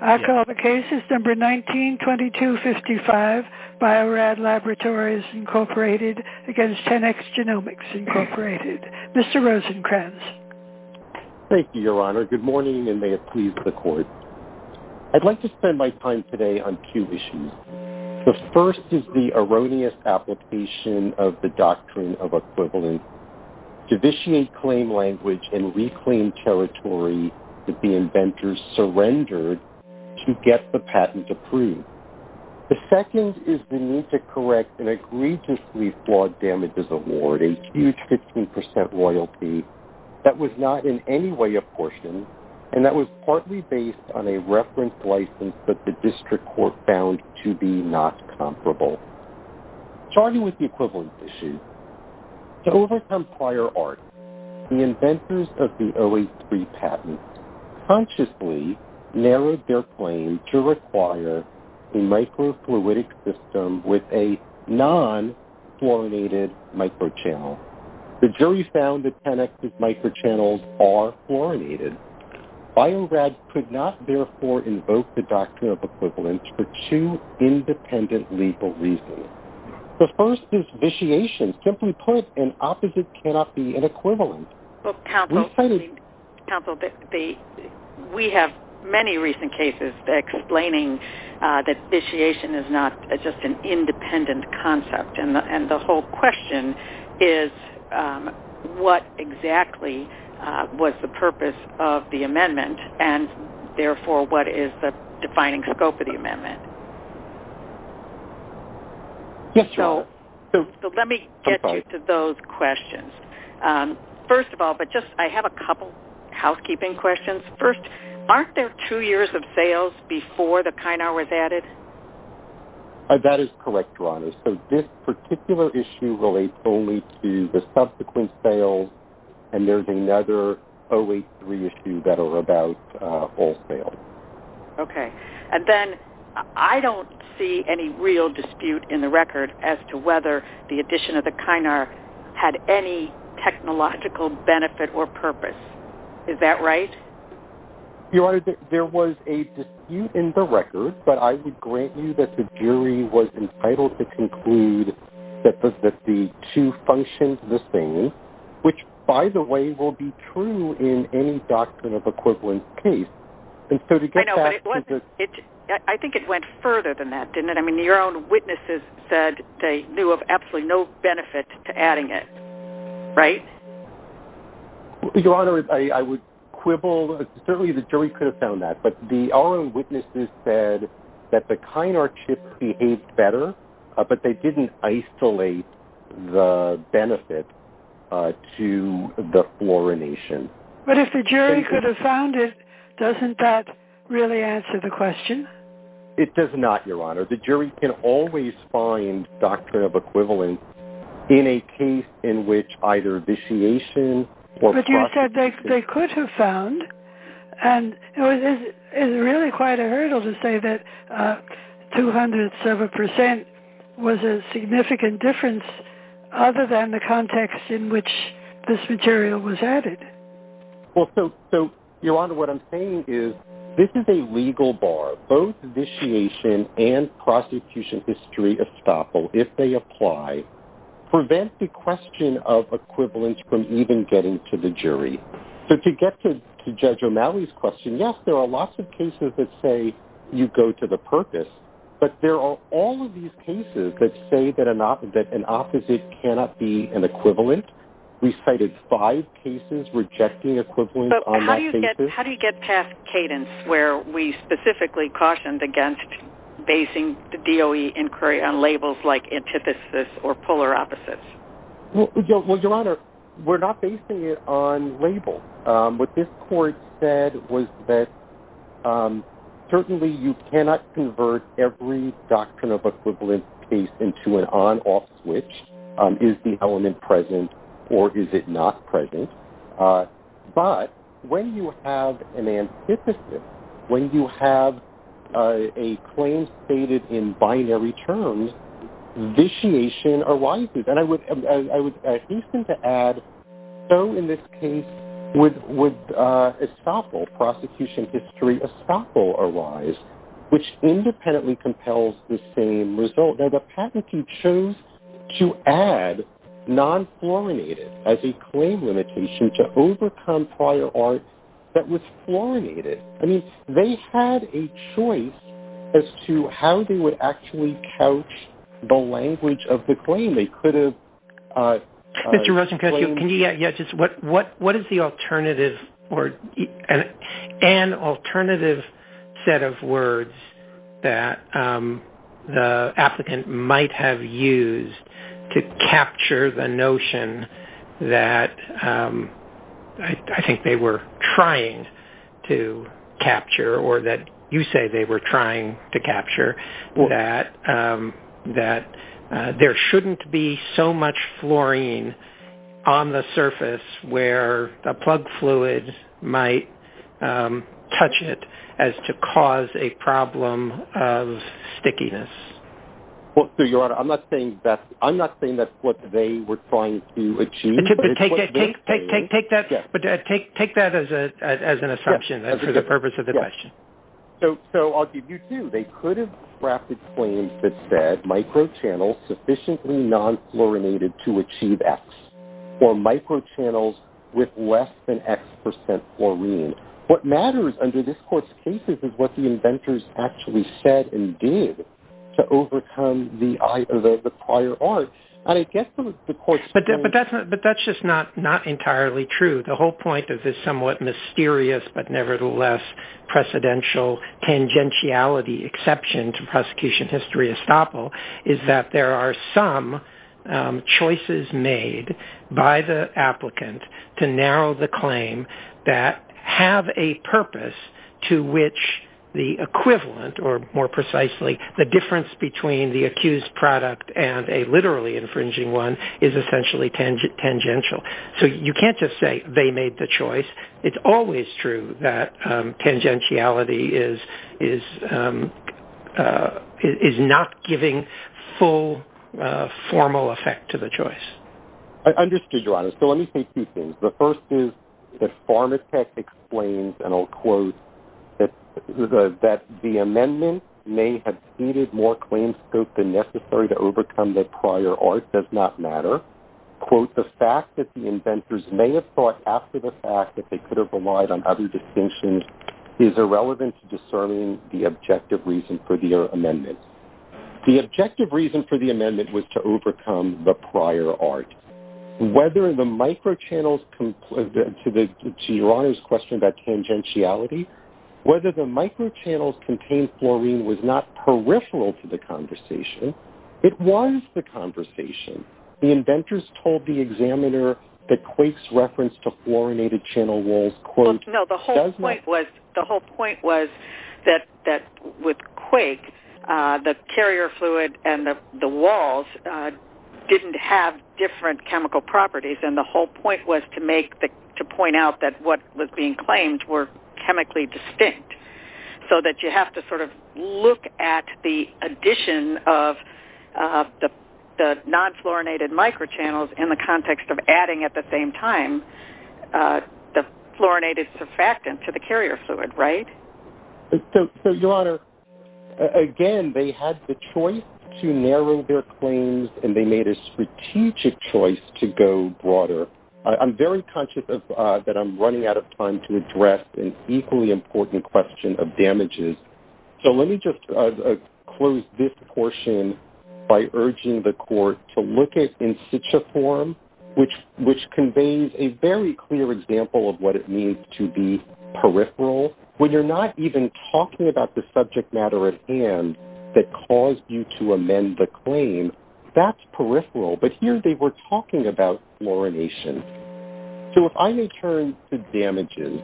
I call the case number 19-2255, Bio-Rad Laboratories, Inc. v. 10X Genomics, Inc. Mr. Rosenkranz. Thank you, Your Honor. Good morning, and may it please the Court. I'd like to spend my time today on two issues. The first is the erroneous application of the doctrine of equivalence. To vitiate claim language and reclaim territory that the inventors surrendered to get the patent approved. The second is the need to correct an egregiously flawed damages award, a huge 15% royalty, that was not in any way apportioned, and that was partly based on a reference license that the district court found to be not comparable. Starting with the equivalence issue. To overcome prior art, the inventors of the 0A3 patent consciously narrowed their claim to require a microfluidic system with a non-fluorinated microchannel. The jury found that 10X's microchannels are fluorinated. Bio-Rad could not, therefore, invoke the doctrine of equivalence for two independent legal reasons. The first is vitiation. Simply put, an opposite cannot be an equivalent. Counsel, we have many recent cases explaining that vitiation is not just an independent concept, and the whole question is what exactly was the purpose of the amendment, and therefore, what is the defining scope of the amendment? Yes, Your Honor. Let me get you to those questions. First of all, I have a couple housekeeping questions. First, aren't there two years of sales before the Kynar was added? That is correct, Your Honor. So this particular issue relates only to the subsequent sales, and there's another 0A3 issue that are about all sales. Okay. And then I don't see any real dispute in the record as to whether the addition of the Kynar had any technological benefit or purpose. Is that right? Your Honor, there was a dispute in the record, but I would grant you that the jury was entitled to conclude that the two functioned the same, which, by the way, will be true in any doctrine of equivalence case. I know, but I think it went further than that, didn't it? I mean, your own witnesses said they knew of absolutely no benefit to adding it, right? Your Honor, I would quibble. Certainly the jury could have found that, but our own witnesses said that the Kynar chips behaved better, but they didn't isolate the benefit to the fluorination. But if the jury could have found it, doesn't that really answer the question? It does not, Your Honor. The jury can always find doctrine of equivalence in a case in which either vitiation or fraud... But you said they could have found, and it's really quite a hurdle to say that two hundredths of a percent was a significant difference, other than the context in which this material was added. Well, so, Your Honor, what I'm saying is this is a legal bar. Both vitiation and prosecution history estoppel, if they apply, prevent the question of equivalence from even getting to the jury. So to get to Judge O'Malley's question, yes, there are lots of cases that say you go to the purpose, but there are all of these cases that say that an opposite cannot be an equivalent. We cited five cases rejecting equivalence on that case. But how do you get past cadence where we specifically cautioned against basing the DOE inquiry on labels like antithesis or polar opposites? Well, Your Honor, we're not basing it on labels. What this court said was that certainly you cannot convert every doctrine of equivalence case into an on-off switch. Is the element present or is it not present? But when you have an antithesis, when you have a claim stated in binary terms, vitiation arises. And I would hasten to add, so in this case with estoppel, prosecution history estoppel arise, which independently compels the same result. Now the patentee chose to add non-fluorinated as a claim limitation to overcome prior art that was fluorinated. I mean, they had a choice as to how they would actually couch the language of the claim. Mr. Rosencrantz, what is the alternative or an alternative set of words that the applicant might have used to capture the notion that I think they were trying to capture or that you say they were trying to capture that there shouldn't be so much fluorine on the surface where the plug fluid might touch it as to cause a problem of stickiness? Well, Your Honor, I'm not saying that's what they were trying to achieve. Take that as an assumption for the purpose of the question. So I'll give you two. They could have drafted claims that said microchannels sufficiently non-fluorinated to achieve X or microchannels with less than X percent fluorine. What matters under this Court's cases is what the inventors actually said and did to overcome the prior art. But that's just not entirely true. The whole point of this somewhat mysterious but nevertheless precedential tangentiality exception to prosecution history estoppel is that there are some choices made by the applicant to narrow the claim that have a purpose to which the equivalent or, more precisely, the difference between the accused product and a literally infringing one is essentially tangential. So you can't just say they made the choice. It's always true that tangentiality is not giving full formal effect to the choice. I understood, Your Honor. So let me say two things. The first is that Pharmatech explains, and I'll quote, that the amendment may have ceded more claim scope than necessary to overcome the prior art does not matter. Quote, the fact that the inventors may have thought after the fact that they could have relied on other distinctions is irrelevant to discerning the objective reason for the amendment. The objective reason for the amendment was to overcome the prior art. Whether the microchannels, to Your Honor's question about tangentiality, whether the microchannels contained fluorine was not peripheral to the conversation. It was the conversation. The inventors told the examiner that Quake's reference to fluorinated channel walls, quote, does not matter. No, the whole point was that with Quake, the carrier fluid and the walls didn't have different chemical properties, and the whole point was to point out that what was being claimed were chemically distinct, so that you have to sort of look at the addition of the non-fluorinated microchannels in the context of adding at the same time the fluorinated surfactant to the carrier fluid, right? So, Your Honor, again, they had the choice to narrow their claims, and they made a strategic choice to go broader. I'm very conscious that I'm running out of time to address an equally important question of damages, so let me just close this portion by urging the Court to look at in situ form, which conveys a very clear example of what it means to be peripheral. When you're not even talking about the subject matter at hand that caused you to amend the claim, that's peripheral. But here, they were talking about fluorination. So, if I may turn to damages,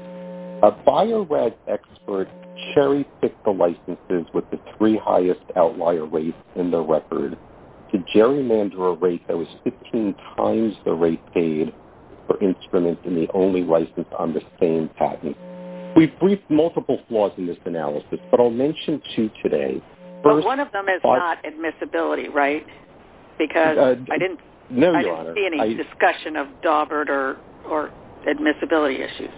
a Bio-Rad expert cherry-picked the licenses with the three highest outlier rates in the record to gerrymander a rate that was 15 times the rate paid for instruments and the only license on the same patent. We've briefed multiple flaws in this analysis, but I'll mention two today. But one of them is not admissibility, right? Because I didn't see any discussion of Dawbert or admissibility issues.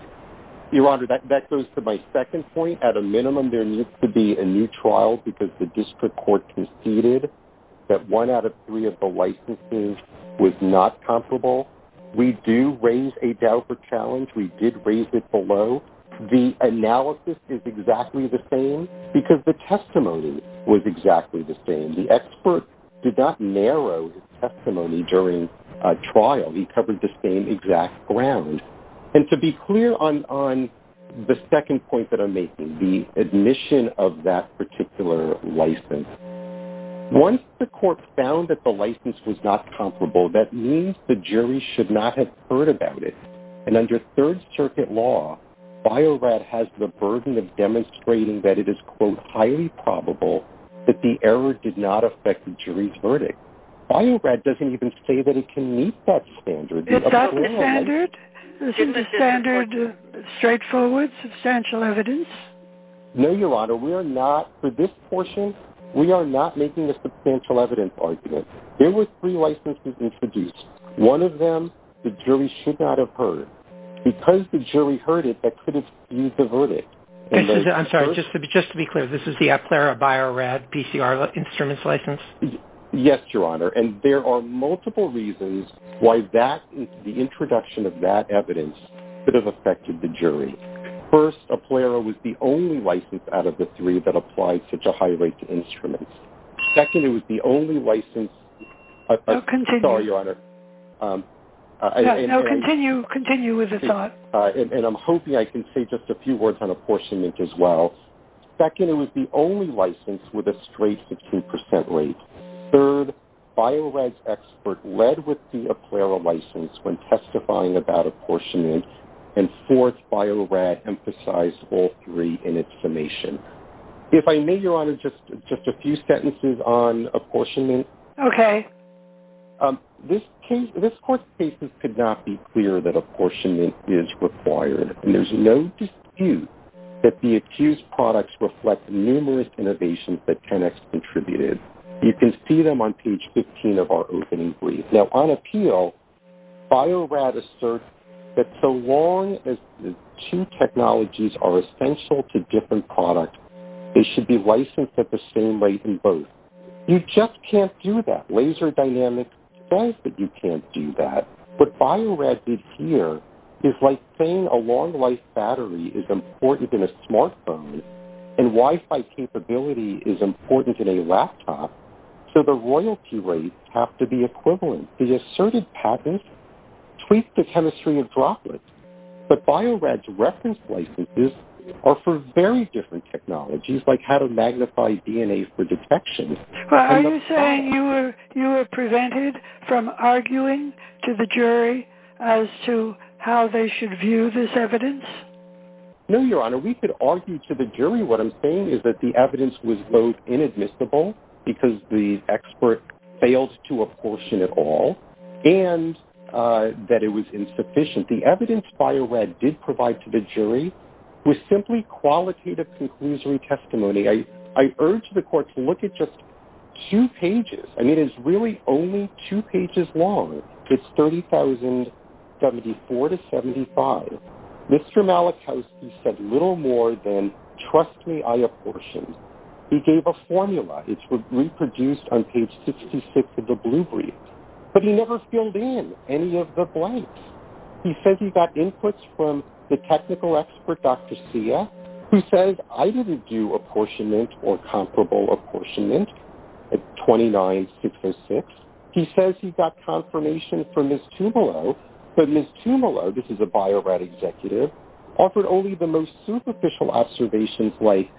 Your Honor, that goes to my second point. At a minimum, there needs to be a new trial because the District Court conceded that one out of three of the licenses was not comparable. We do raise a Dawbert challenge. We did raise it below. The analysis is exactly the same because the testimony was exactly the same. The expert did not narrow his testimony during a trial. He covered the same exact ground. And to be clear on the second point that I'm making, the admission of that particular license, once the Court found that the license was not comparable, that means the jury should not have heard about it. And under Third Circuit law, Bio-Rad has the burden of demonstrating that it is, quote, highly probable that the error did not affect the jury's verdict. Bio-Rad doesn't even say that it can meet that standard. Is that the standard? Isn't the standard straightforward, substantial evidence? No, Your Honor. We are not, for this portion, we are not making a substantial evidence argument. There were three licenses introduced. One of them, the jury should not have heard. Because the jury heard it, they couldn't use the verdict. I'm sorry, just to be clear, this is the Aplera Bio-Rad PCR instruments license? Yes, Your Honor, and there are multiple reasons why that is the introduction of that evidence that has affected the jury. First, Aplera was the only license out of the three that applied such a high rate to instruments. Second, it was the only license... No, continue. Sorry, Your Honor. No, continue, continue with the thought. And I'm hoping I can say just a few words on apportionment as well. Second, it was the only license with a straight to 2% rate. Third, Bio-Rad's expert led with the Aplera license when testifying about apportionment. And fourth, Bio-Rad emphasized all three in its summation. If I may, Your Honor, just a few sentences on apportionment. Okay. This court's cases could not be clearer that apportionment is required. And there's no dispute that the accused products reflect numerous innovations that Tenex contributed. You can see them on page 15 of our opening brief. Now, on appeal, Bio-Rad asserts that so long as the two technologies are essential to different products, they should be licensed at the same rate in both. You just can't do that. Laser Dynamics says that you can't do that. What Bio-Rad did here is like saying a long-life battery is important in a smartphone and Wi-Fi capability is important in a laptop. So the royalty rates have to be equivalent. The asserted patents tweak the chemistry of droplets. But Bio-Rad's reference licenses are for very different technologies, like how to magnify DNA for detection. Are you saying you were prevented from arguing to the jury as to how they should view this evidence? No, Your Honor. We could argue to the jury. What I'm saying is that the evidence was both inadmissible because the expert failed to apportion it all and that it was insufficient. The evidence Bio-Rad did provide to the jury was simply qualitative conclusory testimony. I urge the court to look at just two pages. I mean, it's really only two pages long. It's 30,074 to 75. Mr. Malachowski said little more than, trust me, I apportioned. He gave a formula. It's reproduced on page 66 of the blue brief. But he never filled in any of the blanks. He says he got inputs from the technical expert, Dr. Sia, who says, I didn't do apportionment or comparable apportionment at 29,606. He says he got confirmation from Ms. Tumalo. But Ms. Tumalo, this is a Bio-Rad executive, offered only the most superficial observations, like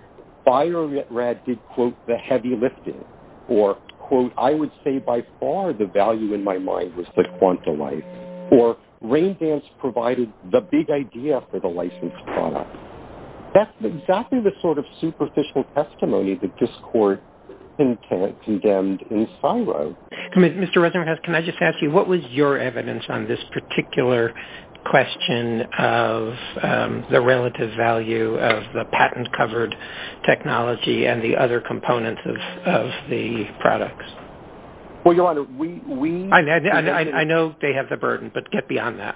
Bio-Rad did, quote, the heavy lifting, or, quote, I would say by far the value in my mind was the quanta life, or Rain Dance provided the big idea for the licensed product. That's exactly the sort of superficial testimony that this court condemned in Syro. Mr. Rosenberghouse, can I just ask you, what was your evidence on this particular question of the relative value of the patent-covered technology and the other components of the products? Well, Your Honor, we- I know they have the burden, but get beyond that.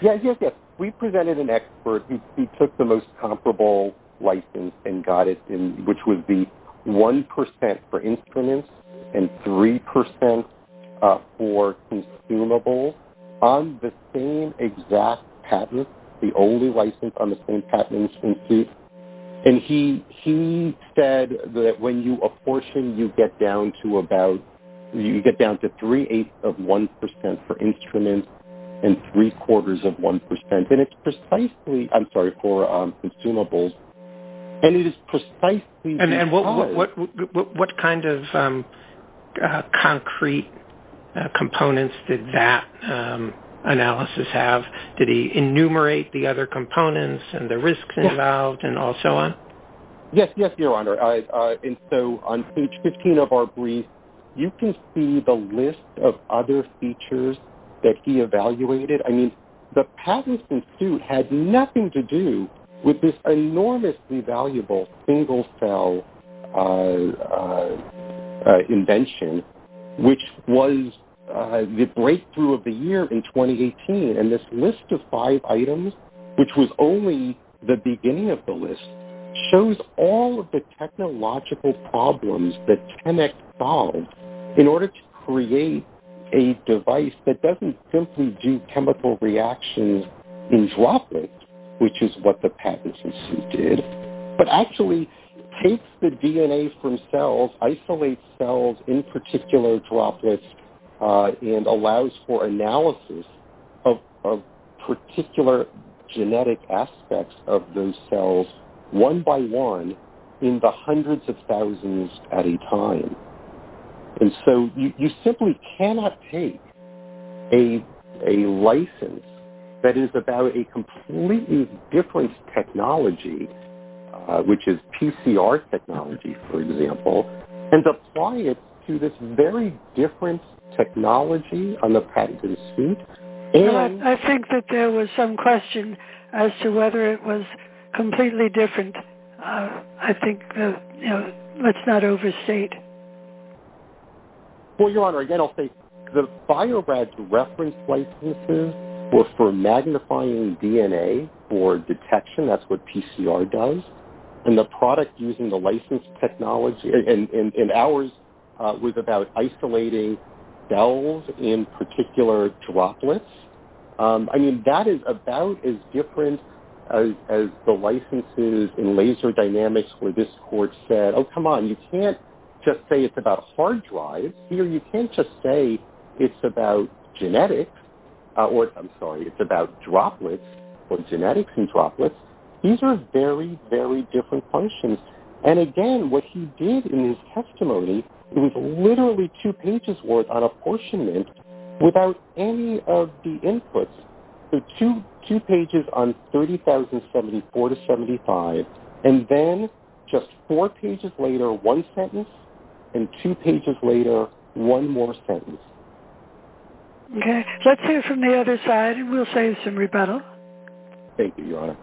Yes, yes, yes. We presented an expert who took the most comparable license and got it, which would be 1% for instruments and 3% for consumables on the same exact patent, the only license on the same patent. And he said that when you apportion, you get down to about, you get down to three-eighths of 1% for instruments and three-quarters of 1%. And it's precisely-I'm sorry, for consumables. And it is precisely- And what kind of concrete components did that analysis have? Did he enumerate the other components and the risks involved and all so on? Yes, yes, Your Honor. And so on page 15 of our brief, you can see the list of other features that he evaluated. I mean, the patents in suit had nothing to do with this enormously valuable single-cell invention, which was the breakthrough of the year in 2018. And this list of five items, which was only the beginning of the list, shows all of the technological problems that ChemEx solved in order to create a device that doesn't simply do chemical reactions in droplets, which is what the patents in suit did, but actually takes the DNA from cells, isolates cells in particular droplets, and allows for analysis of particular genetic aspects of those cells one by one in the hundreds of thousands at a time. And so you simply cannot take a license that is about a completely different technology, which is PCR technology, for example, and apply it to this very different technology on the patent in suit. I think that there was some question as to whether it was completely different. I think, you know, let's not overstate. Well, Your Honor, again, I'll say the BioBrads reference licenses were for magnifying DNA for detection. That's what PCR does. And the product using the license technology in ours was about isolating cells in particular droplets. I mean, that is about as different as the licenses in laser dynamics where this court said, oh, come on, you can't just say it's about hard drives. Here you can't just say it's about genetics. I'm sorry, it's about droplets or genetics in droplets. These are very, very different functions. And again, what he did in his testimony was literally two pages worth on apportionment without any of the inputs, so two pages on 30,074 to 75, and then just four pages later, one sentence, and two pages later, one more sentence. Okay. Let's hear from the other side, and we'll save some rebuttal. Thank you, Your Honor.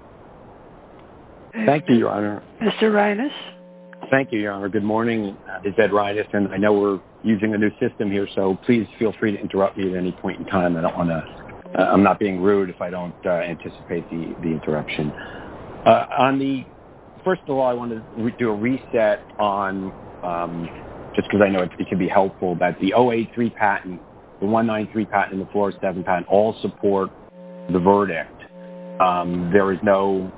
Thank you, Your Honor. Mr. Reines. Thank you, Your Honor. Good morning. My name is Ed Reines, and I know we're using a new system here, so please feel free to interrupt me at any point in time. I'm not being rude if I don't anticipate the interruption. First of all, I want to do a reset on, just because I know it can be helpful, that the 083 patent, the 193 patent, and the 407 patent all support the verdict. There is no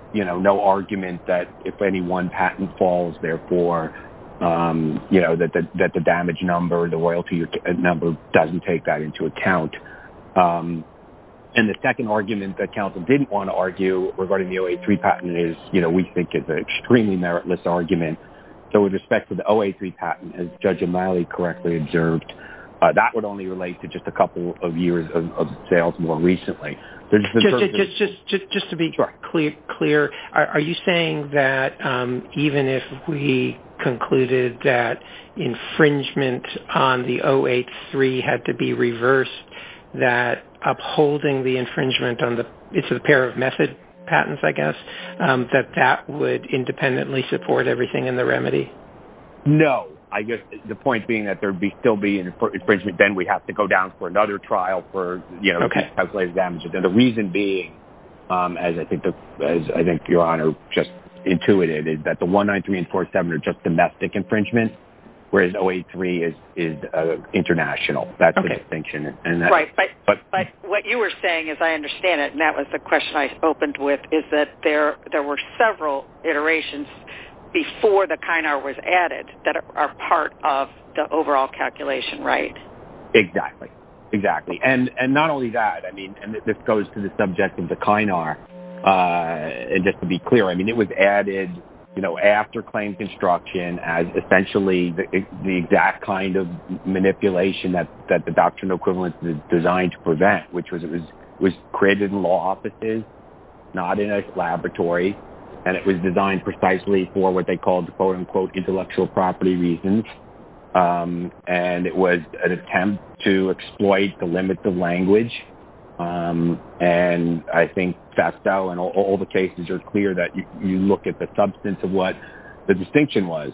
argument that if any one patent falls, therefore, that the damage number or the royalty number doesn't take that into account. And the second argument that counsel didn't want to argue regarding the 083 patent is, we think it's an extremely meritless argument. So with respect to the 083 patent, as Judge O'Malley correctly observed, that would only relate to just a couple of years of sales more recently. Just to be clear, are you saying that even if we concluded that infringement on the 083 had to be reversed, that upholding the infringement on the pair of method patents, I guess, that that would independently support everything in the remedy? No. I guess the point being that there would still be infringement, then we have to go down for another trial for calculated damages. And the reason being, as I think Your Honor just intuited, is that the 193 and 407 are just domestic infringement, whereas 083 is international. That's the distinction. Right. But what you were saying, as I understand it, and that was the question I opened with, is that there were several iterations before the Kynar was added that are part of the overall calculation, right? Exactly. Exactly. And not only that, I mean, and this goes to the subject of the Kynar, and just to be clear, I mean, it was added, you know, after claim construction as essentially the exact kind of manipulation that the doctrinal equivalence is designed to prevent, which was created in law offices, not in a laboratory, and it was designed precisely for what they called the, quote-unquote, intellectual property reasons. And it was an attempt to exploit the limits of language. And I think FASTO and all the cases are clear that you look at the substance of what the distinction was.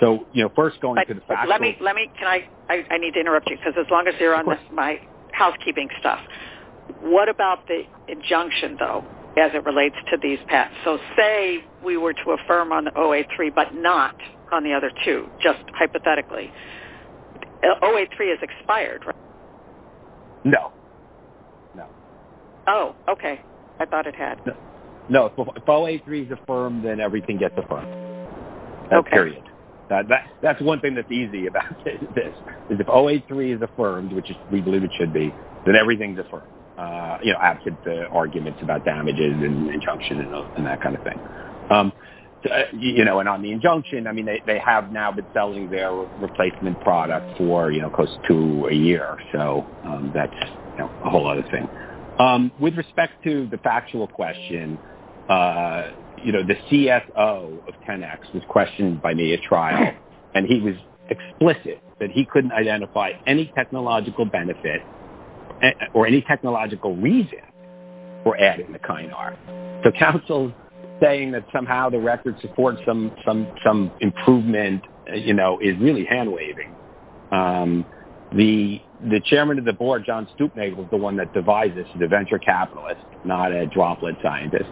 So, you know, first going to the FASTO. Let me, can I, I need to interrupt you, because as long as you're on my housekeeping stuff, what about the injunction, though, as it relates to these paths? So say we were to affirm on OA-3 but not on the other two, just hypothetically. OA-3 is expired, right? No. No. Oh, okay. I thought it had. No. If OA-3 is affirmed, then everything gets affirmed. Okay. Period. That's one thing that's easy about this, is if OA-3 is affirmed, which we believe it should be, then everything gets affirmed, you know, after the arguments about damages and injunction and that kind of thing. You know, and on the injunction, I mean, they have now been selling their replacement product for, you know, close to a year. So that's a whole other thing. With respect to the factual question, you know, the CFO of 10X was questioned by me at trial, and he was explicit that he couldn't identify any technological benefit or any technological reason for adding the Kynar. So counsel's saying that somehow the record supports some improvement, you know, is really hand-waving. The chairman of the board, John Stupnick, was the one that devised this as a venture capitalist, not a droplet scientist.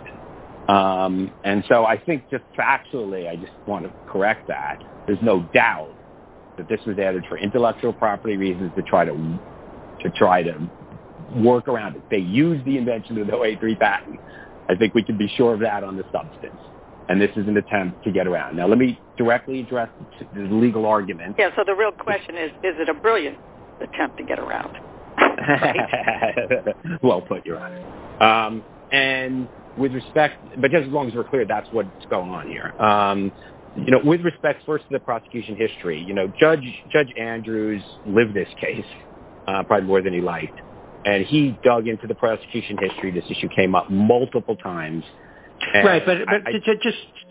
And so I think just factually I just want to correct that. There's no doubt that this was added for intellectual property reasons to try to work around it. They used the invention of the OA-3 patent. I think we can be sure of that on the substance, and this is an attempt to get around. Now let me directly address the legal argument. Yeah, so the real question is, is it a brilliant attempt to get around? Well put, your Honor. And with respect, but just as long as we're clear, that's what's going on here. You know, with respect first to the prosecution history, you know, Judge Andrews lived this case probably more than he liked, and he dug into the prosecution history. This issue came up multiple times. Right, but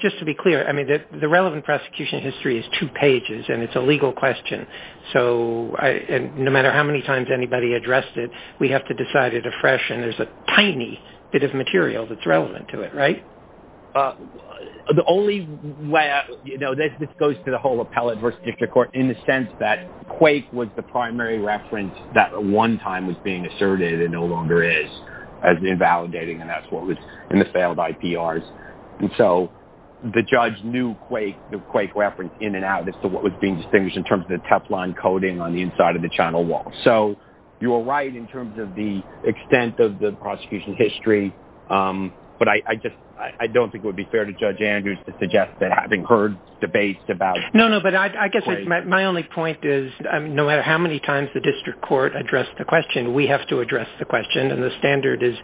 just to be clear, I mean, the relevant prosecution history is two pages, and it's a legal question. So no matter how many times anybody addressed it, we have to decide it afresh, and there's a tiny bit of material that's relevant to it, right? The only way I, you know, this goes to the whole appellate versus district court in the sense that Quake was the primary reference that at one time was being asserted and no longer is as invalidating, and that's what was in the failed IPRs. And so the judge knew Quake, the Quake reference in and out as to what was being distinguished in terms of the Teflon coating on the inside of the channel wall. So you are right in terms of the extent of the prosecution history, but I just don't think it would be fair to Judge Andrews to suggest that having heard debates about Quake. No, no, but I guess my only point is no matter how many times the district court addressed the question, we have to address the question, and the standard is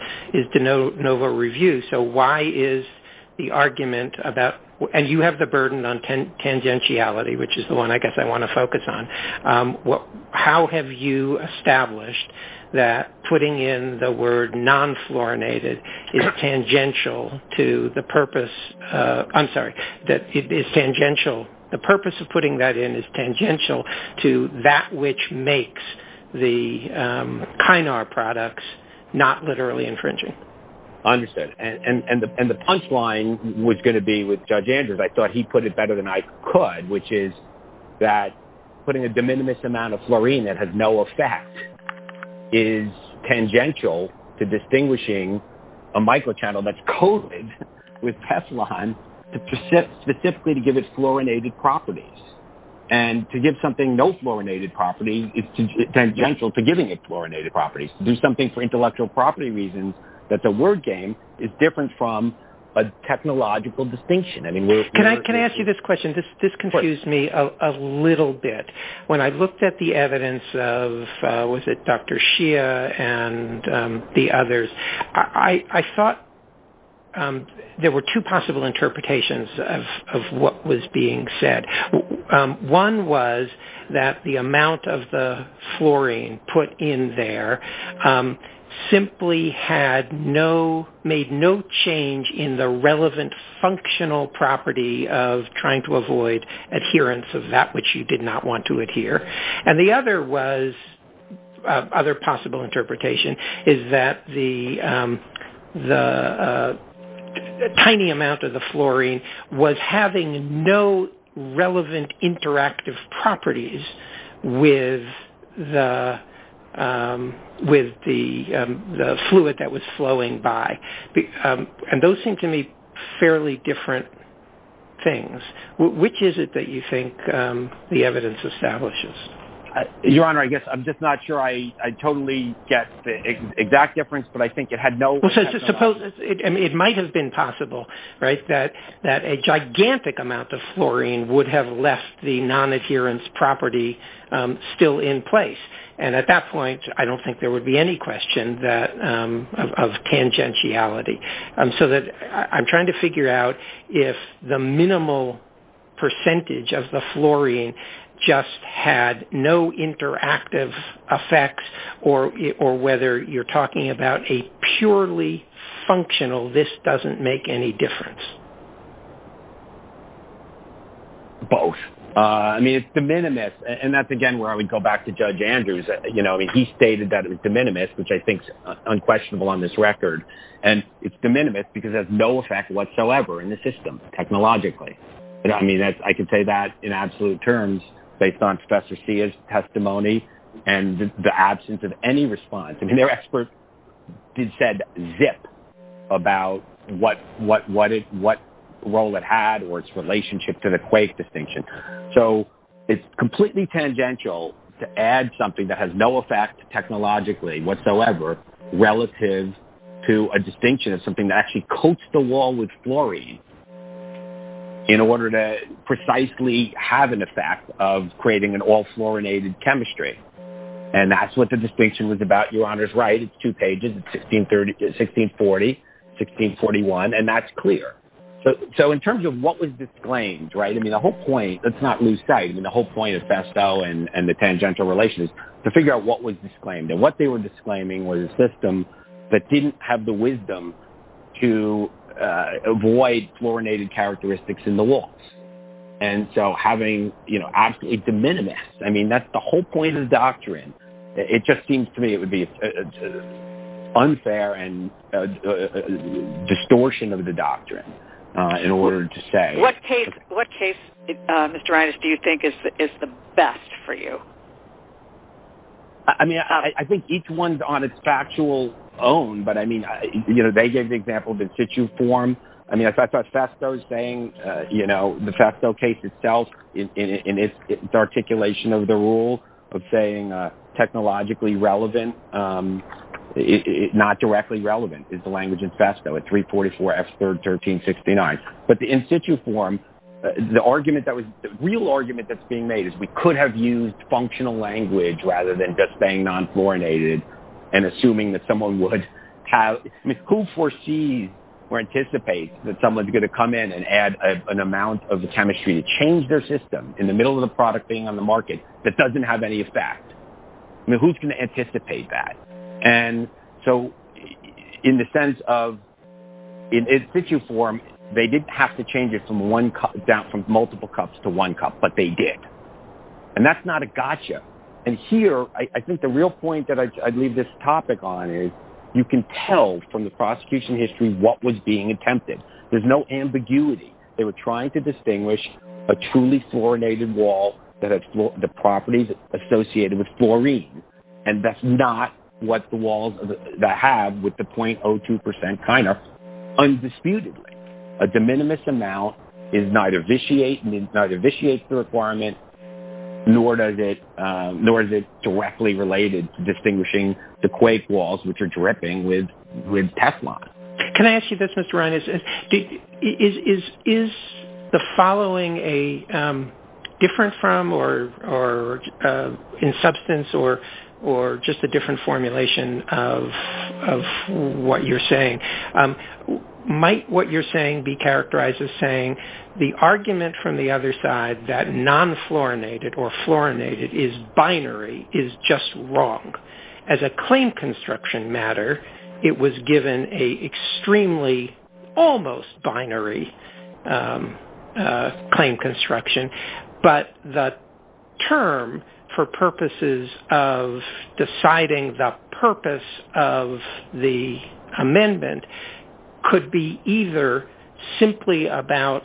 de novo review. So why is the argument about, and you have the burden on tangentiality, which is the one I guess I want to focus on. How have you established that putting in the word non-fluorinated is tangential to the purpose, I'm sorry, that it is tangential, the purpose of putting that in is tangential to that which makes the Kynar products not literally infringing? Understood. And the punchline was going to be with Judge Andrews. I thought he put it better than I could, which is that putting a de minimis amount of fluorine that has no effect is tangential to distinguishing a microchannel that's coated with Teflon specifically to give it fluorinated properties. And to give something no fluorinated property is tangential to giving it fluorinated properties. To do something for intellectual property reasons that's a word game is different from a technological distinction. Can I ask you this question? This confused me a little bit. When I looked at the evidence of, was it Dr. Shia and the others, I thought there were two possible interpretations of what was being said. One was that the amount of the fluorine put in there simply had no, made no change in the relevant functional property of trying to avoid adherence of that which you did not want to adhere. And the other was, other possible interpretation, is that the tiny amount of the fluorine was having no relevant interactive properties with the fluid that was flowing by. And those seem to me fairly different things. Which is it that you think the evidence establishes? Your Honor, I guess I'm just not sure I totally get the exact difference, but I think it had no effect. It might have been possible that a gigantic amount of fluorine would have left the non-adherence property still in place. And at that point, I don't think there would be any question of tangentiality. So I'm trying to figure out if the minimal percentage of the fluorine just had no interactive effects or whether you're talking about a purely functional, this doesn't make any difference. Both. I mean, it's de minimis. And that's again where I would go back to Judge Andrews. He stated that it was de minimis, which I think is unquestionable on this record. And it's de minimis because it has no effect whatsoever in the system, technologically. I mean, I can say that in absolute terms based on Professor Sia's testimony and the absence of any response. I mean, their expert did say zip about what role it had or its relationship to the quake distinction. So it's completely tangential to add something that has no effect technologically whatsoever relative to a distinction of something that actually coats the wall with fluorine in order to precisely have an effect of creating an all-fluorinated chemistry. And that's what the distinction was about. Your Honor is right. It's two pages. It's 1640, 1641. And that's clear. So in terms of what was disclaimed, right? I mean, the whole point, let's not lose sight. I mean, the whole point of Festo and the tangential relations is to figure out what was disclaimed. And what they were disclaiming was a system that didn't have the wisdom to avoid fluorinated characteristics in the walls. And so having, you know, absolutely de minimis. I mean, that's the whole point of doctrine. It just seems to me it would be unfair and distortion of the doctrine in order to say. What case, Mr. Reines, do you think is the best for you? I mean, I think each one's on its factual own. But, I mean, you know, they gave the example of in situ form. I mean, I thought Festo was saying, you know, the Festo case itself in its articulation of the rule of saying technologically relevant, not directly relevant is the language in Festo. It's 344S31369. But the in situ form, the argument that was the real argument that's being made is we could have used functional language rather than just saying non-fluorinated and assuming that someone would have. I mean, who foresees or anticipates that someone's going to come in and add an amount of the chemistry to change their system in the middle of the product being on the market that doesn't have any effect? I mean, who's going to anticipate that? And so in the sense of in situ form, they didn't have to change it from multiple cups to one cup, but they did. And that's not a gotcha. And here, I think the real point that I'd leave this topic on is you can tell from the prosecution history what was being attempted. There's no ambiguity. They were trying to distinguish a truly fluorinated wall that had the properties associated with fluorine. And that's not what the walls that have with the 0.02% kind are, undisputedly. A de minimis amount neither vitiates the requirement nor is it directly related to distinguishing the quake walls which are dripping with Teflon. Can I ask you this, Mr. Ryan? Is the following different from or in substance or just a different formulation of what you're saying? Might what you're saying be characterized as saying the argument from the other side that non-fluorinated or fluorinated is binary is just wrong. As a claim construction matter, it was given a extremely almost binary claim construction. But the term for purposes of deciding the purpose of the amendment could be either simply about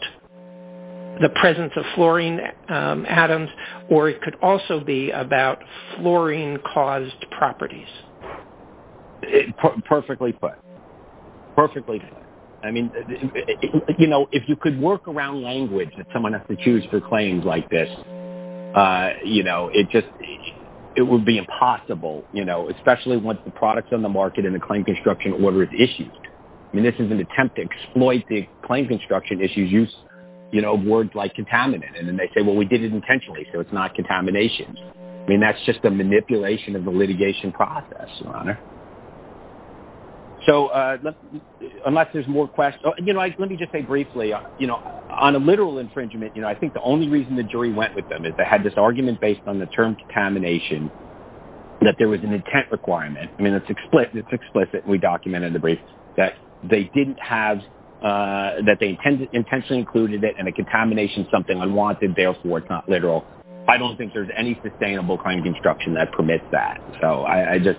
the presence of fluorine atoms or it could also be about fluorine-caused properties. Perfectly put. Perfectly put. I mean, you know, if you could work around language that someone has to choose for claims like this, you know, it just, it would be impossible, you know, especially once the products on the market and the claim construction order is issued. I mean, this is an attempt to exploit the claim construction issues, use, you know, words like contaminant. And then they say, well, we did it intentionally so it's not contamination. I mean, that's just a manipulation of the litigation process, Your Honor. So, unless there's more questions. You know, let me just say briefly, you know, on a literal infringement, you know, I think the only reason the jury went with them is they had this argument based on the term contamination that there was an intent requirement. I mean, it's explicit. We documented the brief that they didn't have, that they intentionally included it and a contamination is something unwanted, therefore it's not literal. I don't think there's any sustainable claim construction that permits that. So, I just,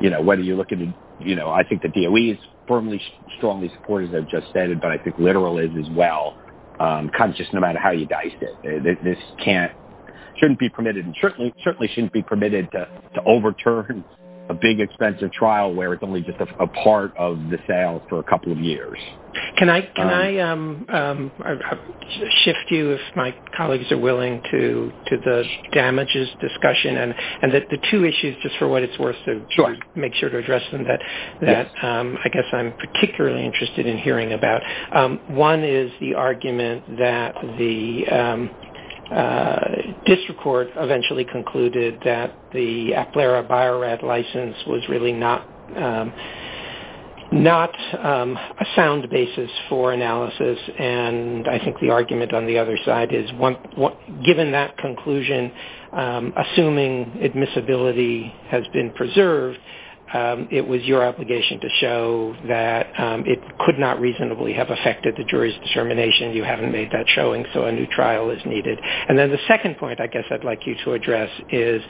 you know, whether you're looking to, you know, I think the DOE is firmly, strongly supportive, as I've just said, but I think literal is as well, conscious no matter how you dice it. This can't, shouldn't be permitted and certainly shouldn't be permitted to overturn a big expensive trial where it's only just a part of the sale for a couple of years. Can I shift you, if my colleagues are willing, to the damages discussion and that the two issues, just for what it's worth to make sure to address them, that I guess I'm particularly interested in hearing about. One is the argument that the district court eventually concluded that the Aclara Bio-Rad license was really not a sound basis for analysis and I think the argument on the other side is given that conclusion, assuming admissibility has been preserved, it was your obligation to show that it could not reasonably have affected the jury's determination. You haven't made that showing, so a new trial is needed. And then the second point I guess I'd like you to address is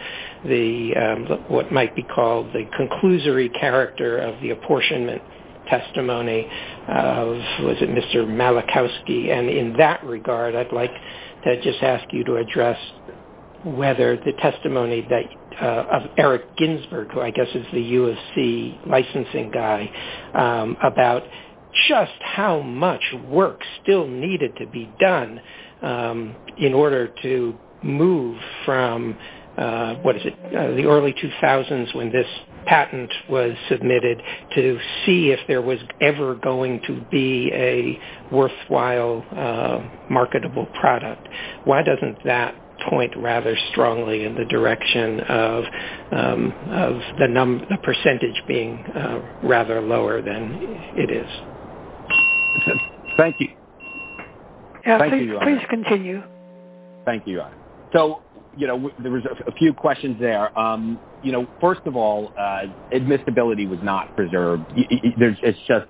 the, what might be called the conclusory character of the apportionment testimony of, was it Mr. Malachowski, and in that regard I'd like to just ask you to address whether the testimony of Eric Ginsberg, who I guess is the USC licensing guy, about just how much work still needed to be done in order to move from, what is it, the early 2000s when this patent was submitted to see if there was ever going to be a worthwhile marketable product. Why doesn't that point rather strongly in the direction of the percentage being rather lower than it is? Thank you. Please continue. Thank you. So, you know, there was a few questions there. You know, first of all, admissibility was not preserved. It's just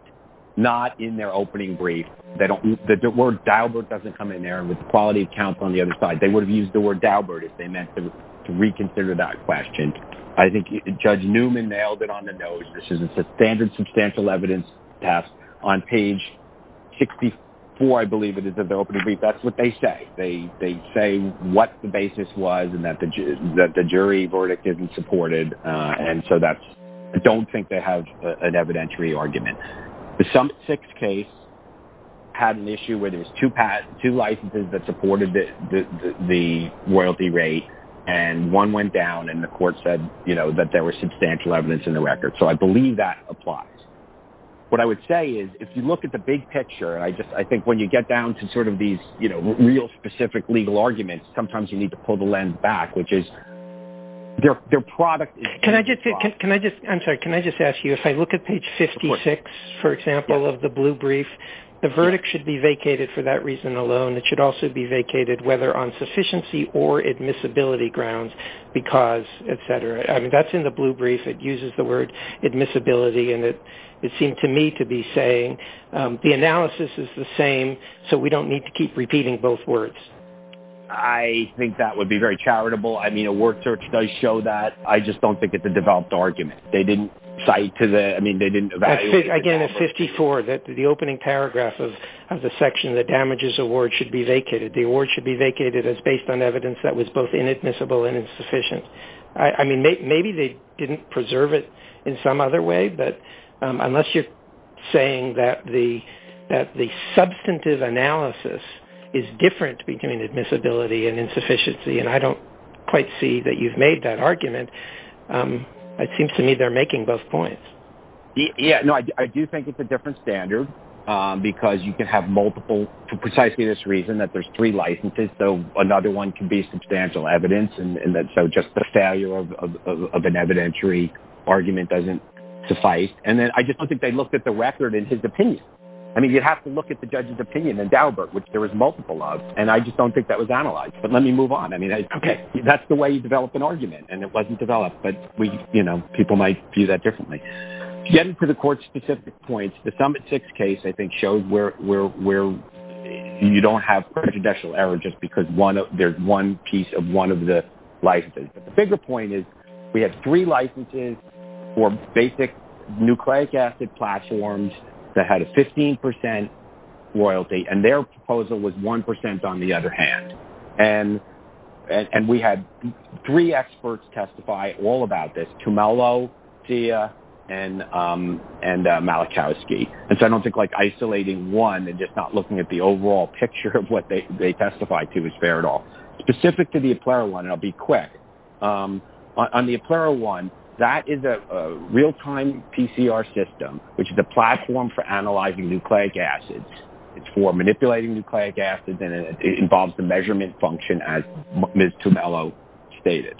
not in their opening brief. The word Daubert doesn't come in there with quality of counsel on the other side. They would have used the word Daubert if they meant to reconsider that question. I think Judge Newman nailed it on the nose. This is a standard substantial evidence test on page 64, I believe it is, of the opening brief. That's what they say. They say what the basis was and that the jury verdict isn't supported, and so I don't think they have an evidentiary argument. The Summit 6 case had an issue where there was two licenses that supported the royalty rate, and one went down, and the court said, you know, that there was substantial evidence in the record. So I believe that applies. What I would say is if you look at the big picture, I think when you get down to sort of these, you know, real specific legal arguments, sometimes you need to pull the lens back, which is their product is too soft. Can I just ask you, if I look at page 56, for example, of the blue brief, the verdict should be vacated for that reason alone. It should also be vacated whether on sufficiency or admissibility grounds because, et cetera. I mean, that's in the blue brief. It uses the word admissibility, and it seemed to me to be saying the analysis is the same, so we don't need to keep repeating both words. I think that would be very charitable. I mean, a word search does show that. I just don't think it's a developed argument. They didn't cite to the – I mean, they didn't evaluate. Again, it's 54. The opening paragraph of the section that damages award should be vacated. The award should be vacated as based on evidence that was both inadmissible and insufficient. I mean, maybe they didn't preserve it in some other way, but unless you're saying that the substantive analysis is different between admissibility and insufficiency, and I don't quite see that you've made that argument, it seems to me they're making both points. Yeah. No, I do think it's a different standard because you can have multiple, for precisely this reason that there's three licenses, so another one can be substantial evidence, and so just the failure of an evidentiary argument doesn't suffice. And then I just don't think they looked at the record in his opinion. I mean, you'd have to look at the judge's opinion in Daubert, which there was multiple of, and I just don't think that was analyzed. But let me move on. Okay. That's the way you develop an argument, and it wasn't developed, but people might view that differently. Getting to the court-specific points, the Summit 6 case, I think, you don't have prejudicial error just because there's one piece of one of the licenses. But the bigger point is we had three licenses for basic nucleic acid platforms that had a 15% royalty, and their proposal was 1% on the other hand, and we had three experts testify all about this, Tumelo, Tia, and Malachowski. And so I don't think, like, isolating one and just not looking at the overall picture of what they testified to is fair at all. Specific to the EPLERA-1, and I'll be quick, on the EPLERA-1, that is a real-time PCR system, which is a platform for analyzing nucleic acids. It's for manipulating nucleic acids, and it involves the measurement function as Ms. Tumelo stated.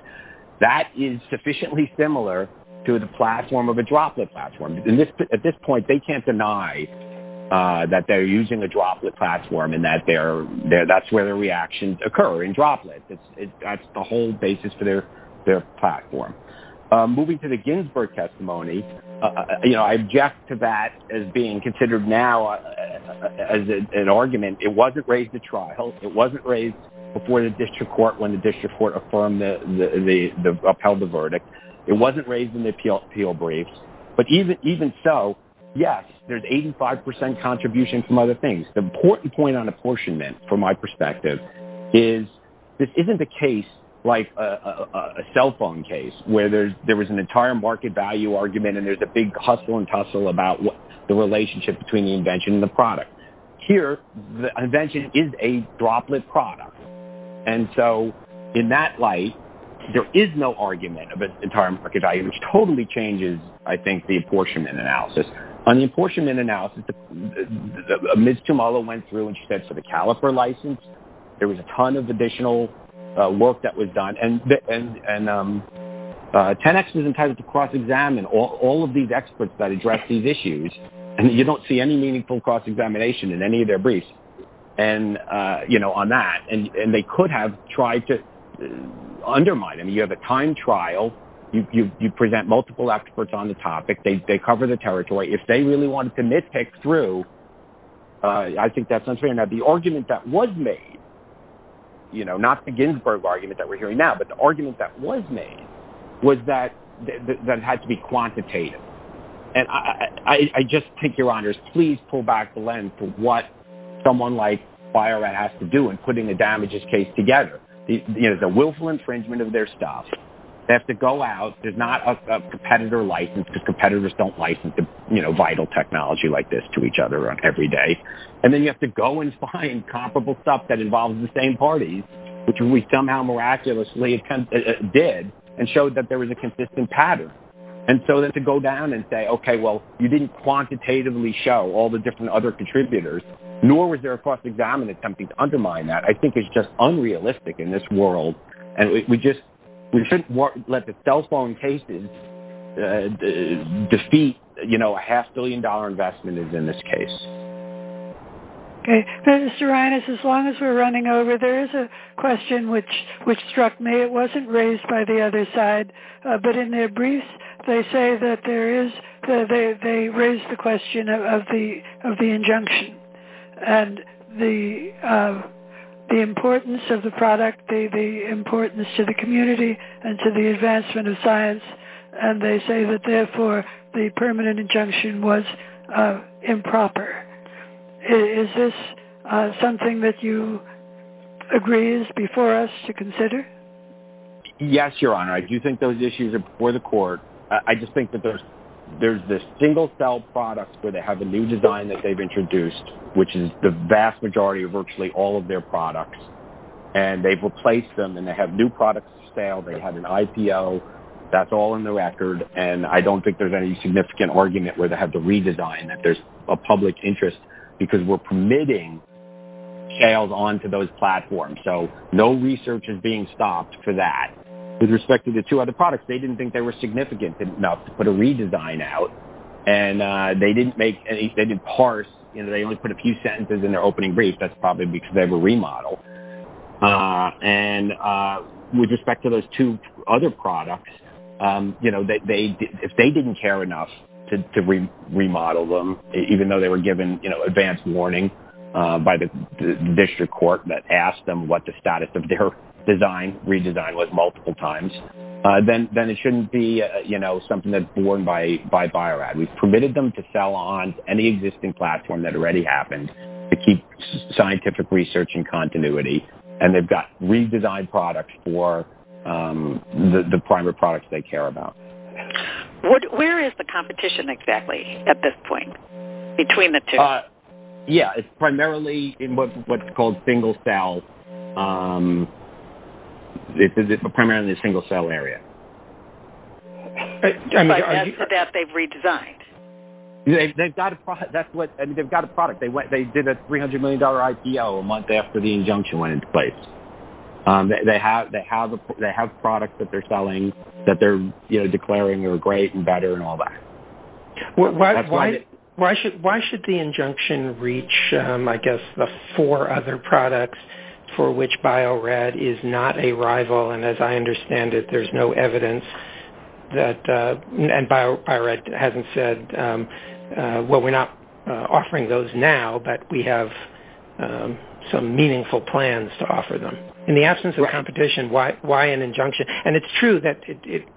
That is sufficiently similar to the platform of a droplet platform. At this point, they can't deny that they're using a droplet platform and that's where their reactions occur, in droplets. That's the whole basis for their platform. Moving to the Ginsburg testimony, you know, I object to that as being considered now as an argument. It wasn't raised at trial. It wasn't raised before the district court, when the district court upheld the verdict. It wasn't raised in the appeal briefs. But even so, yes, there's 85 percent contribution from other things. The important point on apportionment, from my perspective, is this isn't a case like a cell phone case, where there was an entire market value argument and there's a big hustle and tussle about the relationship between the invention and the product. Here, the invention is a droplet product. And so, in that light, there is no argument of an entire market value, which totally changes, I think, the apportionment analysis. On the apportionment analysis, Ms. Tumelo went through and she said, for the caliper license, there was a ton of additional work that was done. And 10X was entitled to cross-examine all of these experts that addressed these issues. And you don't see any meaningful cross-examination in any of their briefs on that. And they could have tried to undermine them. You have a time trial. You present multiple experts on the topic. They cover the territory. If they really wanted to nitpick through, I think that's unfair. Now, the argument that was made, not the Ginsburg argument that we're hearing now, but the argument that was made was that it had to be quantitative. And I just think, Your Honors, please pull back the lens to what someone like Bio-Rad has to do in putting a damages case together. The willful infringement of their stuff. They have to go out. There's not a competitor license because competitors don't license vital technology like this to each other every day. And then you have to go and find comparable stuff that involves the same parties, which we somehow miraculously did and showed that there was a consistent pattern. And so then to go down and say, okay, well, you didn't quantitatively show all the different other contributors, nor was there a cross-examination attempt to undermine that, I think is just unrealistic in this world. And we shouldn't let the cell phone cases defeat a half-billion-dollar investment as in this case. Okay. Mr. Reines, as long as we're running over, there is a question which struck me. It wasn't raised by the other side. But in their brief, they say that there is they raised the question of the injunction and the importance of the product, the importance to the community and to the advancement of science. And they say that, therefore, the permanent injunction was improper. Is this something that you agree is before us to consider? Yes, Your Honor. I do think those issues are before the court. I just think that there's this single-cell product where they have a new design that they've introduced, which is the vast majority of virtually all of their products. And they've replaced them, and they have new products for sale. They have an IPO. That's all in the record. And I don't think there's any significant argument where they have to redesign, that there's a public interest because we're permitting sales onto those platforms. So no research is being stopped for that. With respect to the two other products, they didn't think they were significant enough to put a redesign out. And they didn't make any, they didn't parse. They only put a few sentences in their opening brief. That's probably because they were remodeled. And with respect to those two other products, you know, if they didn't care enough to remodel them, even though they were given, you know, advance warning by the district court that asked them what the status of their design redesign was multiple times, then it shouldn't be, you know, something that's borne by Bio-Rad. We've permitted them to sell on any existing platform that already happened to keep scientific research in continuity. And they've got redesigned products for the primary products they care about. Where is the competition exactly at this point between the two? Yeah, it's primarily in what's called single cell. It's primarily in the single cell area. That's what they've redesigned. They've got a product. They did a $300 million IPO a month after the injunction went into place. They have products that they're selling that they're, you know, declaring are great and better and all that. Why should the injunction reach, I guess, the four other products for which Bio-Rad is not a rival? And as I understand it, there's no evidence that Bio-Rad hasn't said, well, we're not offering those now, but we have some meaningful plans to offer them. In the absence of competition, why an injunction? And it's true,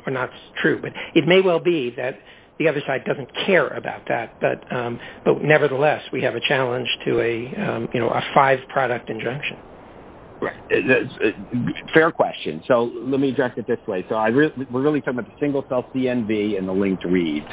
or not true, but it may well be that the other side doesn't care about that. But nevertheless, we have a challenge to a five product injunction. Fair question. So let me address it this way. We're really talking about the single cell CNV and the linked reads.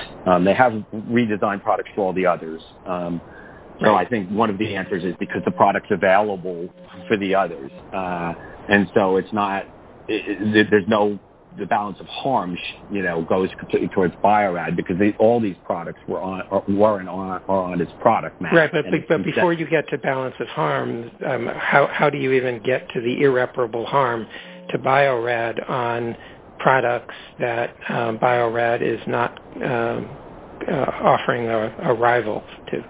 They have redesigned products for all the others. So I think one of the answers is because the product's available for the others. And so it's not – there's no – the balance of harms, you know, goes completely towards Bio-Rad because all these products weren't on its product map. Right, but before you get to balance of harms, how do you even get to the irreparable harm to Bio-Rad on products that Bio-Rad is not offering a rival to?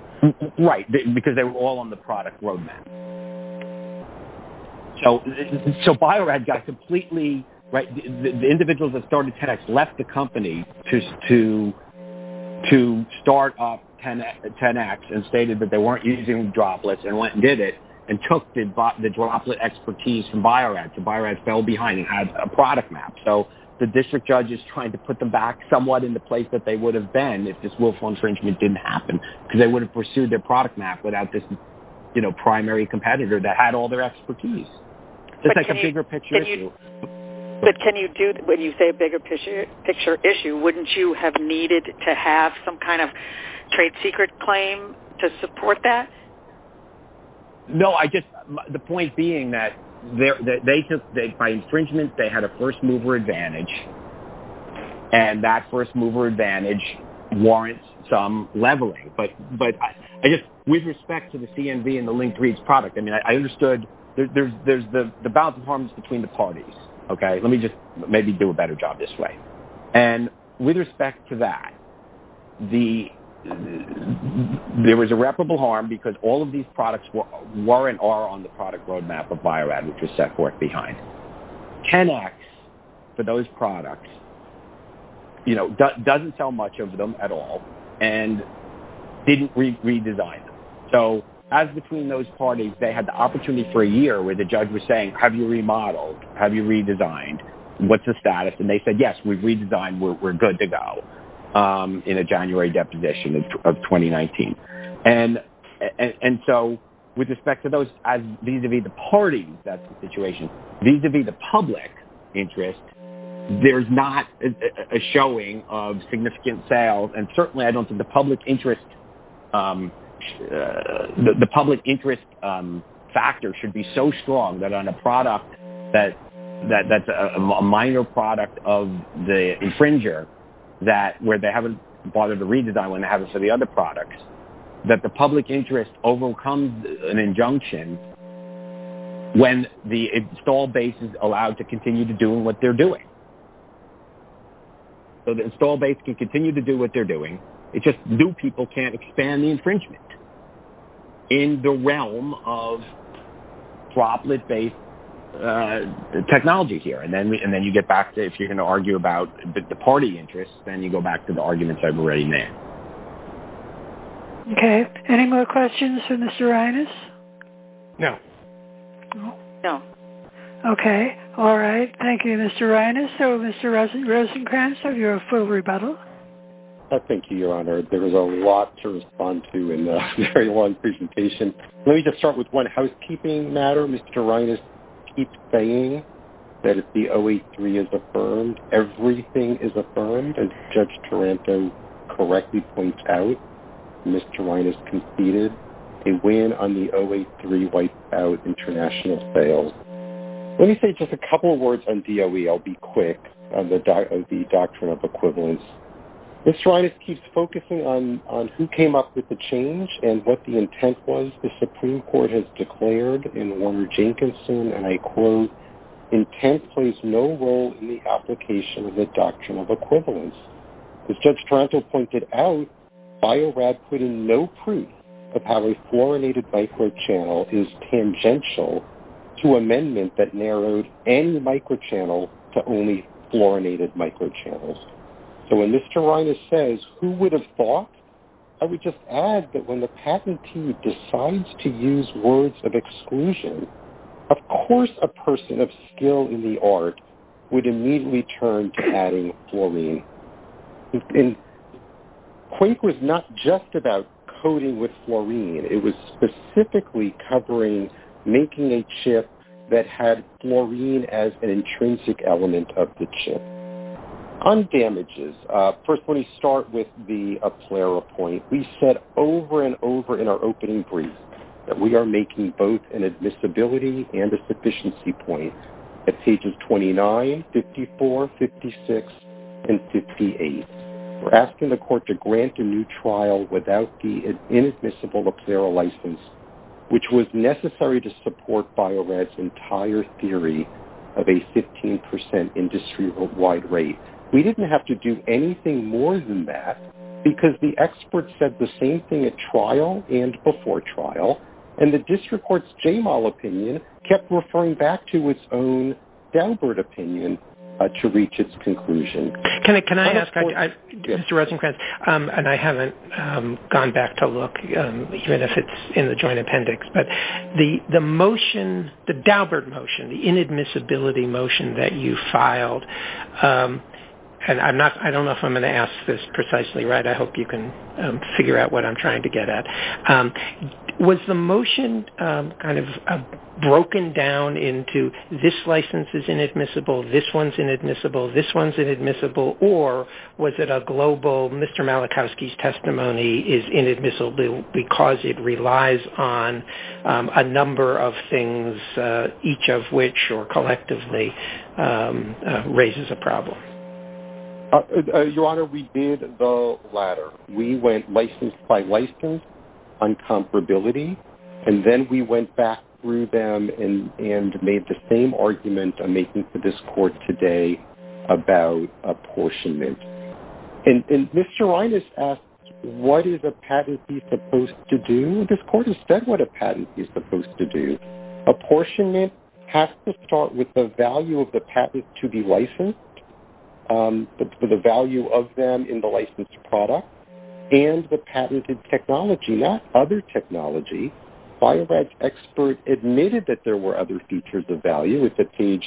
Right, because they were all on the product roadmap. So Bio-Rad got completely – the individuals that started 10X left the company to start up 10X and stated that they weren't using droplets and went and did it and took the droplet expertise from Bio-Rad. Bio-Rad fell behind and had a product map. So the district judge is trying to put them back somewhat in the place that they would have been if this willful infringement didn't happen because they would have pursued their product map without this, you know, primary competitor that had all their expertise. It's like a bigger picture issue. But can you do – when you say a bigger picture issue, wouldn't you have needed to have some kind of trade secret claim to support that? No, I just – the point being that they – by infringement, they had a first mover advantage. And that first mover advantage warrants some leveling. But I guess with respect to the CNV and the Linked Reads product, I mean, I understood there's the balance of harms between the parties. Okay, let me just maybe do a better job this way. And with respect to that, there was irreparable harm because all of these products weren't on the product roadmap of Bio-Rad, which was set forth behind. Kennex for those products, you know, doesn't sell much of them at all and didn't redesign them. So as between those parties, they had the opportunity for a year where the judge was saying, have you remodeled? Have you redesigned? What's the status? And they said, yes, we've redesigned. We're good to go in a January deposition of 2019. And so with respect to those, vis-à-vis the parties, that's the situation. Vis-à-vis the public interest, there's not a showing of significant sales. And certainly, I don't think the public interest factor should be so strong that on a product that's a minor product of the infringer where they haven't bothered to redesign when they haven't for the other products, that the public interest overcomes an injunction when the install base is allowed to continue to do what they're doing. So the install base can continue to do what they're doing. It's just new people can't expand the infringement in the realm of droplet-based technology here. And then you get back to if you're going to argue about the party interest, then you go back to the arguments I've already made. Okay. Any more questions for Mr. Reines? No. No? No. Okay. All right. Thank you, Mr. Reines. So, Mr. Rosenkranz, have you a full rebuttal? Thank you, Your Honor. There was a lot to respond to in a very long presentation. Let me just start with one housekeeping matter. Mr. Reines keeps saying that if the 083 is affirmed, everything is affirmed. As Judge Taranto correctly points out, Mr. Reines conceded a win on the 083 wiped out international sales. Let me say just a couple of words on DOE. I'll be quick on the doctrine of equivalence. Mr. Reines keeps focusing on who came up with the change and what the intent was. The Supreme Court has declared in Warner-Jenkinson, and I quote, intent plays no role in the application of the doctrine of equivalence. As Judge Taranto pointed out, Bio-Rad put in no proof of how a fluorinated microchannel is tangential to amendment that narrowed any microchannel to only fluorinated microchannels. So when Mr. Reines says who would have thought, I would just add that when the patentee decides to use words of exclusion, of course a person of skill in the art would immediately turn to adding fluorine. And Quake was not just about coding with fluorine. It was specifically covering making a chip that had fluorine as an intrinsic element of the chip. On damages, first let me start with the Aplera point. We said over and over in our opening brief that we are making both an admissibility and a sufficiency point at pages 29, 54, 56, and 58. We're asking the court to grant a new trial without the inadmissible Aplera license, which was necessary to support Bio-Rad's entire theory of a 15% industry-wide rate. We didn't have to do anything more than that because the expert said the same thing at trial and before trial, and the district court's J-MAL opinion kept referring back to its own Delbert opinion to reach its conclusion. Can I ask, Mr. Rosenkranz, and I haven't gone back to look, even if it's in the joint appendix, but the motion, the Delbert motion, the inadmissibility motion that you filed, and I don't know if I'm going to ask this precisely right. I hope you can figure out what I'm trying to get at. Was the motion kind of broken down into this license is inadmissible, this one's inadmissible, this one's inadmissible, or was it a global Mr. Malachowski's testimony is inadmissible because it relies on a number of things, each of which collectively raises a problem? Your Honor, we did the latter. We went license by license, uncomparability, and then we went back through them and made the same argument I'm making to this court today about apportionment. And Mr. Reines asked, what is a patentee supposed to do? This court has said what a patentee is supposed to do. Apportionment has to start with the value of the patent to be licensed, the value of them in the licensed product, and the patented technology, not other technology. Bio-Rad's expert admitted that there were other features of value. It's at page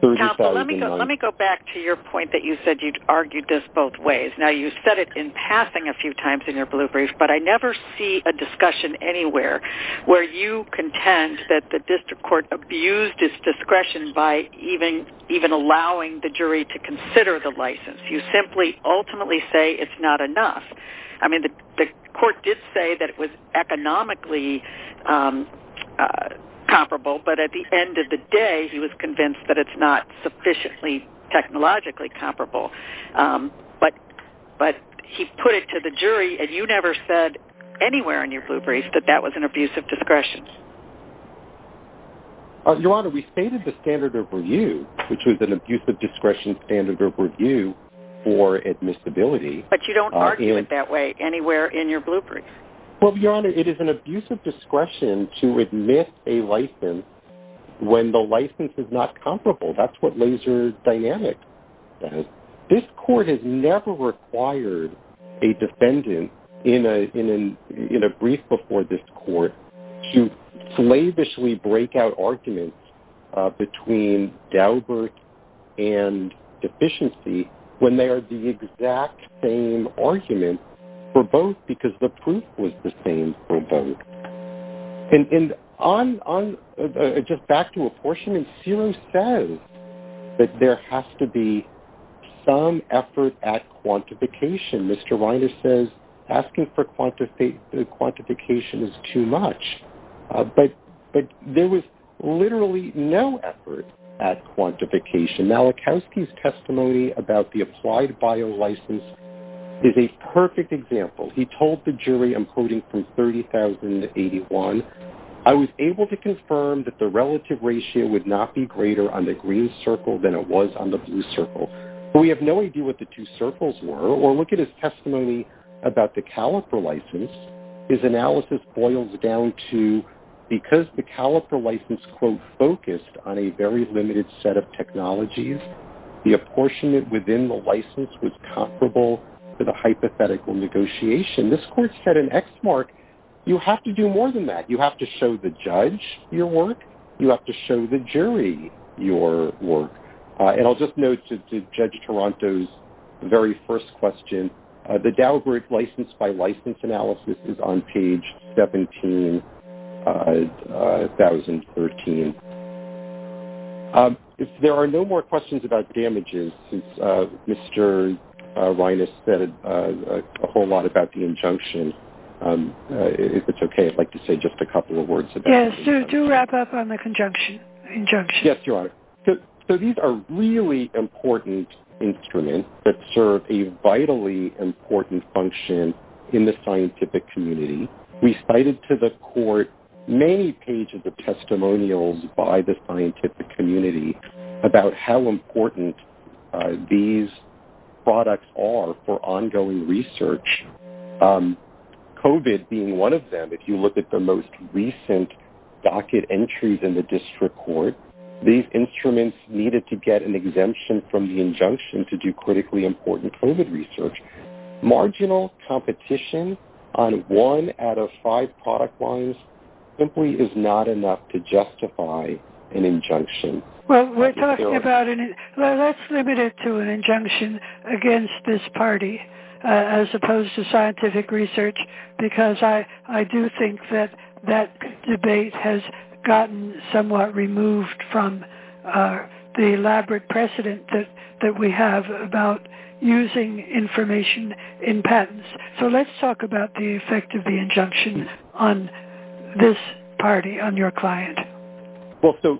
309. Counsel, let me go back to your point that you said you'd argued this both ways. Now, you said it in passing a few times in your blue brief, but I never see a discussion anywhere where you contend that the district court abused its discretion by even allowing the jury to consider the license. You simply ultimately say it's not enough. I mean, the court did say that it was economically comparable, but at the end of the day, he was convinced that it's not sufficiently technologically comparable. But he put it to the jury, and you never said anywhere in your blue brief that that was an abuse of discretion. Your Honor, we stated the standard of review, which was an abuse of discretion standard of review for admissibility. But you don't argue it that way anywhere in your blue brief. Well, Your Honor, it is an abuse of discretion to admit a license when the license is not comparable. That's what laser dynamic does. This court has never required a defendant in a brief before this court to slavishly break out arguments between Daubert and Deficiency when they are the exact same argument for both because the proof was the same for both. And just back to apportionment, Serum says that there has to be some effort at quantification. Mr. Reiner says asking for quantification is too much. But there was literally no effort at quantification. Now, Lakowski's testimony about the applied bio license is a perfect example. He told the jury, I'm quoting from 30,081, I was able to confirm that the relative ratio would not be greater on the green circle than it was on the blue circle. But we have no idea what the two circles were. Or look at his testimony about the caliper license. His analysis boils down to because the caliper license, quote, focused on a very limited set of technologies, the apportionment within the license was comparable to the hypothetical negotiation. This court set an X mark. You have to do more than that. You have to show the judge your work. You have to show the jury your work. And I'll just note to Judge Toronto's very first question, the Daubert license by license analysis is on page 17,013. If there are no more questions about damages, since Mr. Reines said a whole lot about the injunction, if it's okay, I'd like to say just a couple of words about the injunction. Yes, do wrap up on the injunction. Yes, Your Honor. So these are really important instruments that serve a vitally important function in the scientific community. We cited to the court many pages of testimonials by the scientific community about how important these products are for ongoing research. COVID being one of them, if you look at the most recent docket entries in the district court, these instruments needed to get an exemption from the injunction to do critically important COVID research. Marginal competition on one out of five product lines simply is not enough to justify an injunction. Well, let's limit it to an injunction against this party as opposed to scientific research, because I do think that that debate has gotten somewhat removed from the elaborate precedent that we have about using information in patents. So let's talk about the effect of the injunction on this party, on your client. Well, so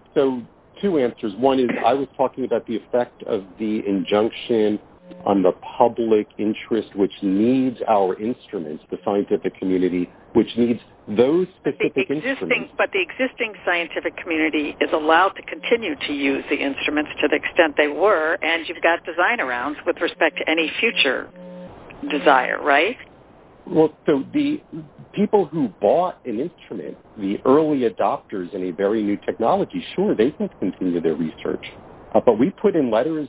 two answers. One is I was talking about the effect of the injunction on the public interest, which needs our instruments, the scientific community, which needs those specific instruments. But the existing scientific community is allowed to continue to use the instruments to the extent they were, and you've got design-arounds with respect to any future desire, right? Well, so the people who bought an instrument, the early adopters in a very new technology, sure, they can continue their research. But we put in letters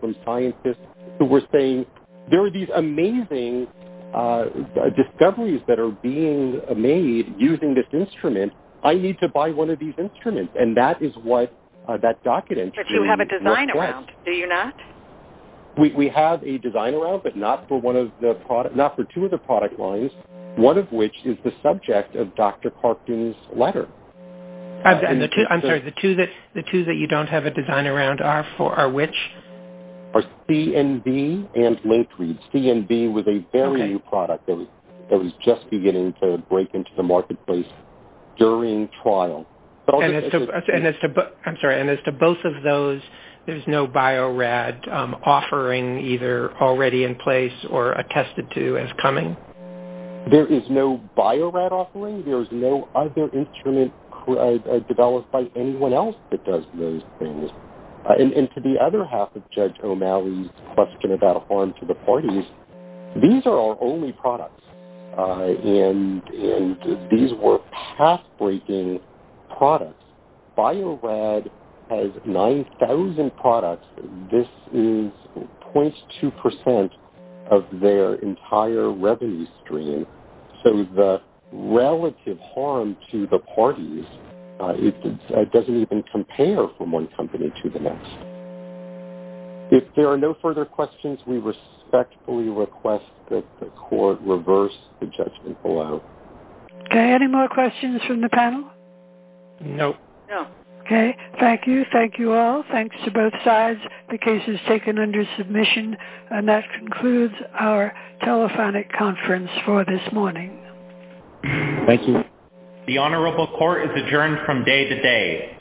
from scientists who were saying there are these amazing discoveries that are being made using this instrument. I need to buy one of these instruments. And that is what that document is. But you have a design-around, do you not? We have a design-around, but not for two of the product lines, one of which is the subject of Dr. Parkden's letter. I'm sorry, the two that you don't have a design-around are which? Are C and B and linked reads. C and B was a very new product that was just beginning to break into the marketplace during trial. I'm sorry, and as to both of those, there's no Bio-Rad offering either already in place or attested to as coming? There is no Bio-Rad offering. There is no other instrument developed by anyone else that does those things. And to the other half of Judge O'Malley's question about harm to the parties, these are our only products, and these were path-breaking products. Bio-Rad has 9,000 products. This is 0.2% of their entire revenue stream. So the relative harm to the parties doesn't even compare from one company to the next. If there are no further questions, we respectfully request that the Court reverse the judgment below. Okay, any more questions from the panel? No. Okay, thank you. Thank you all. Thanks to both sides. The case is taken under submission. And that concludes our telephonic conference for this morning. Thank you. The Honorable Court is adjourned from day to day.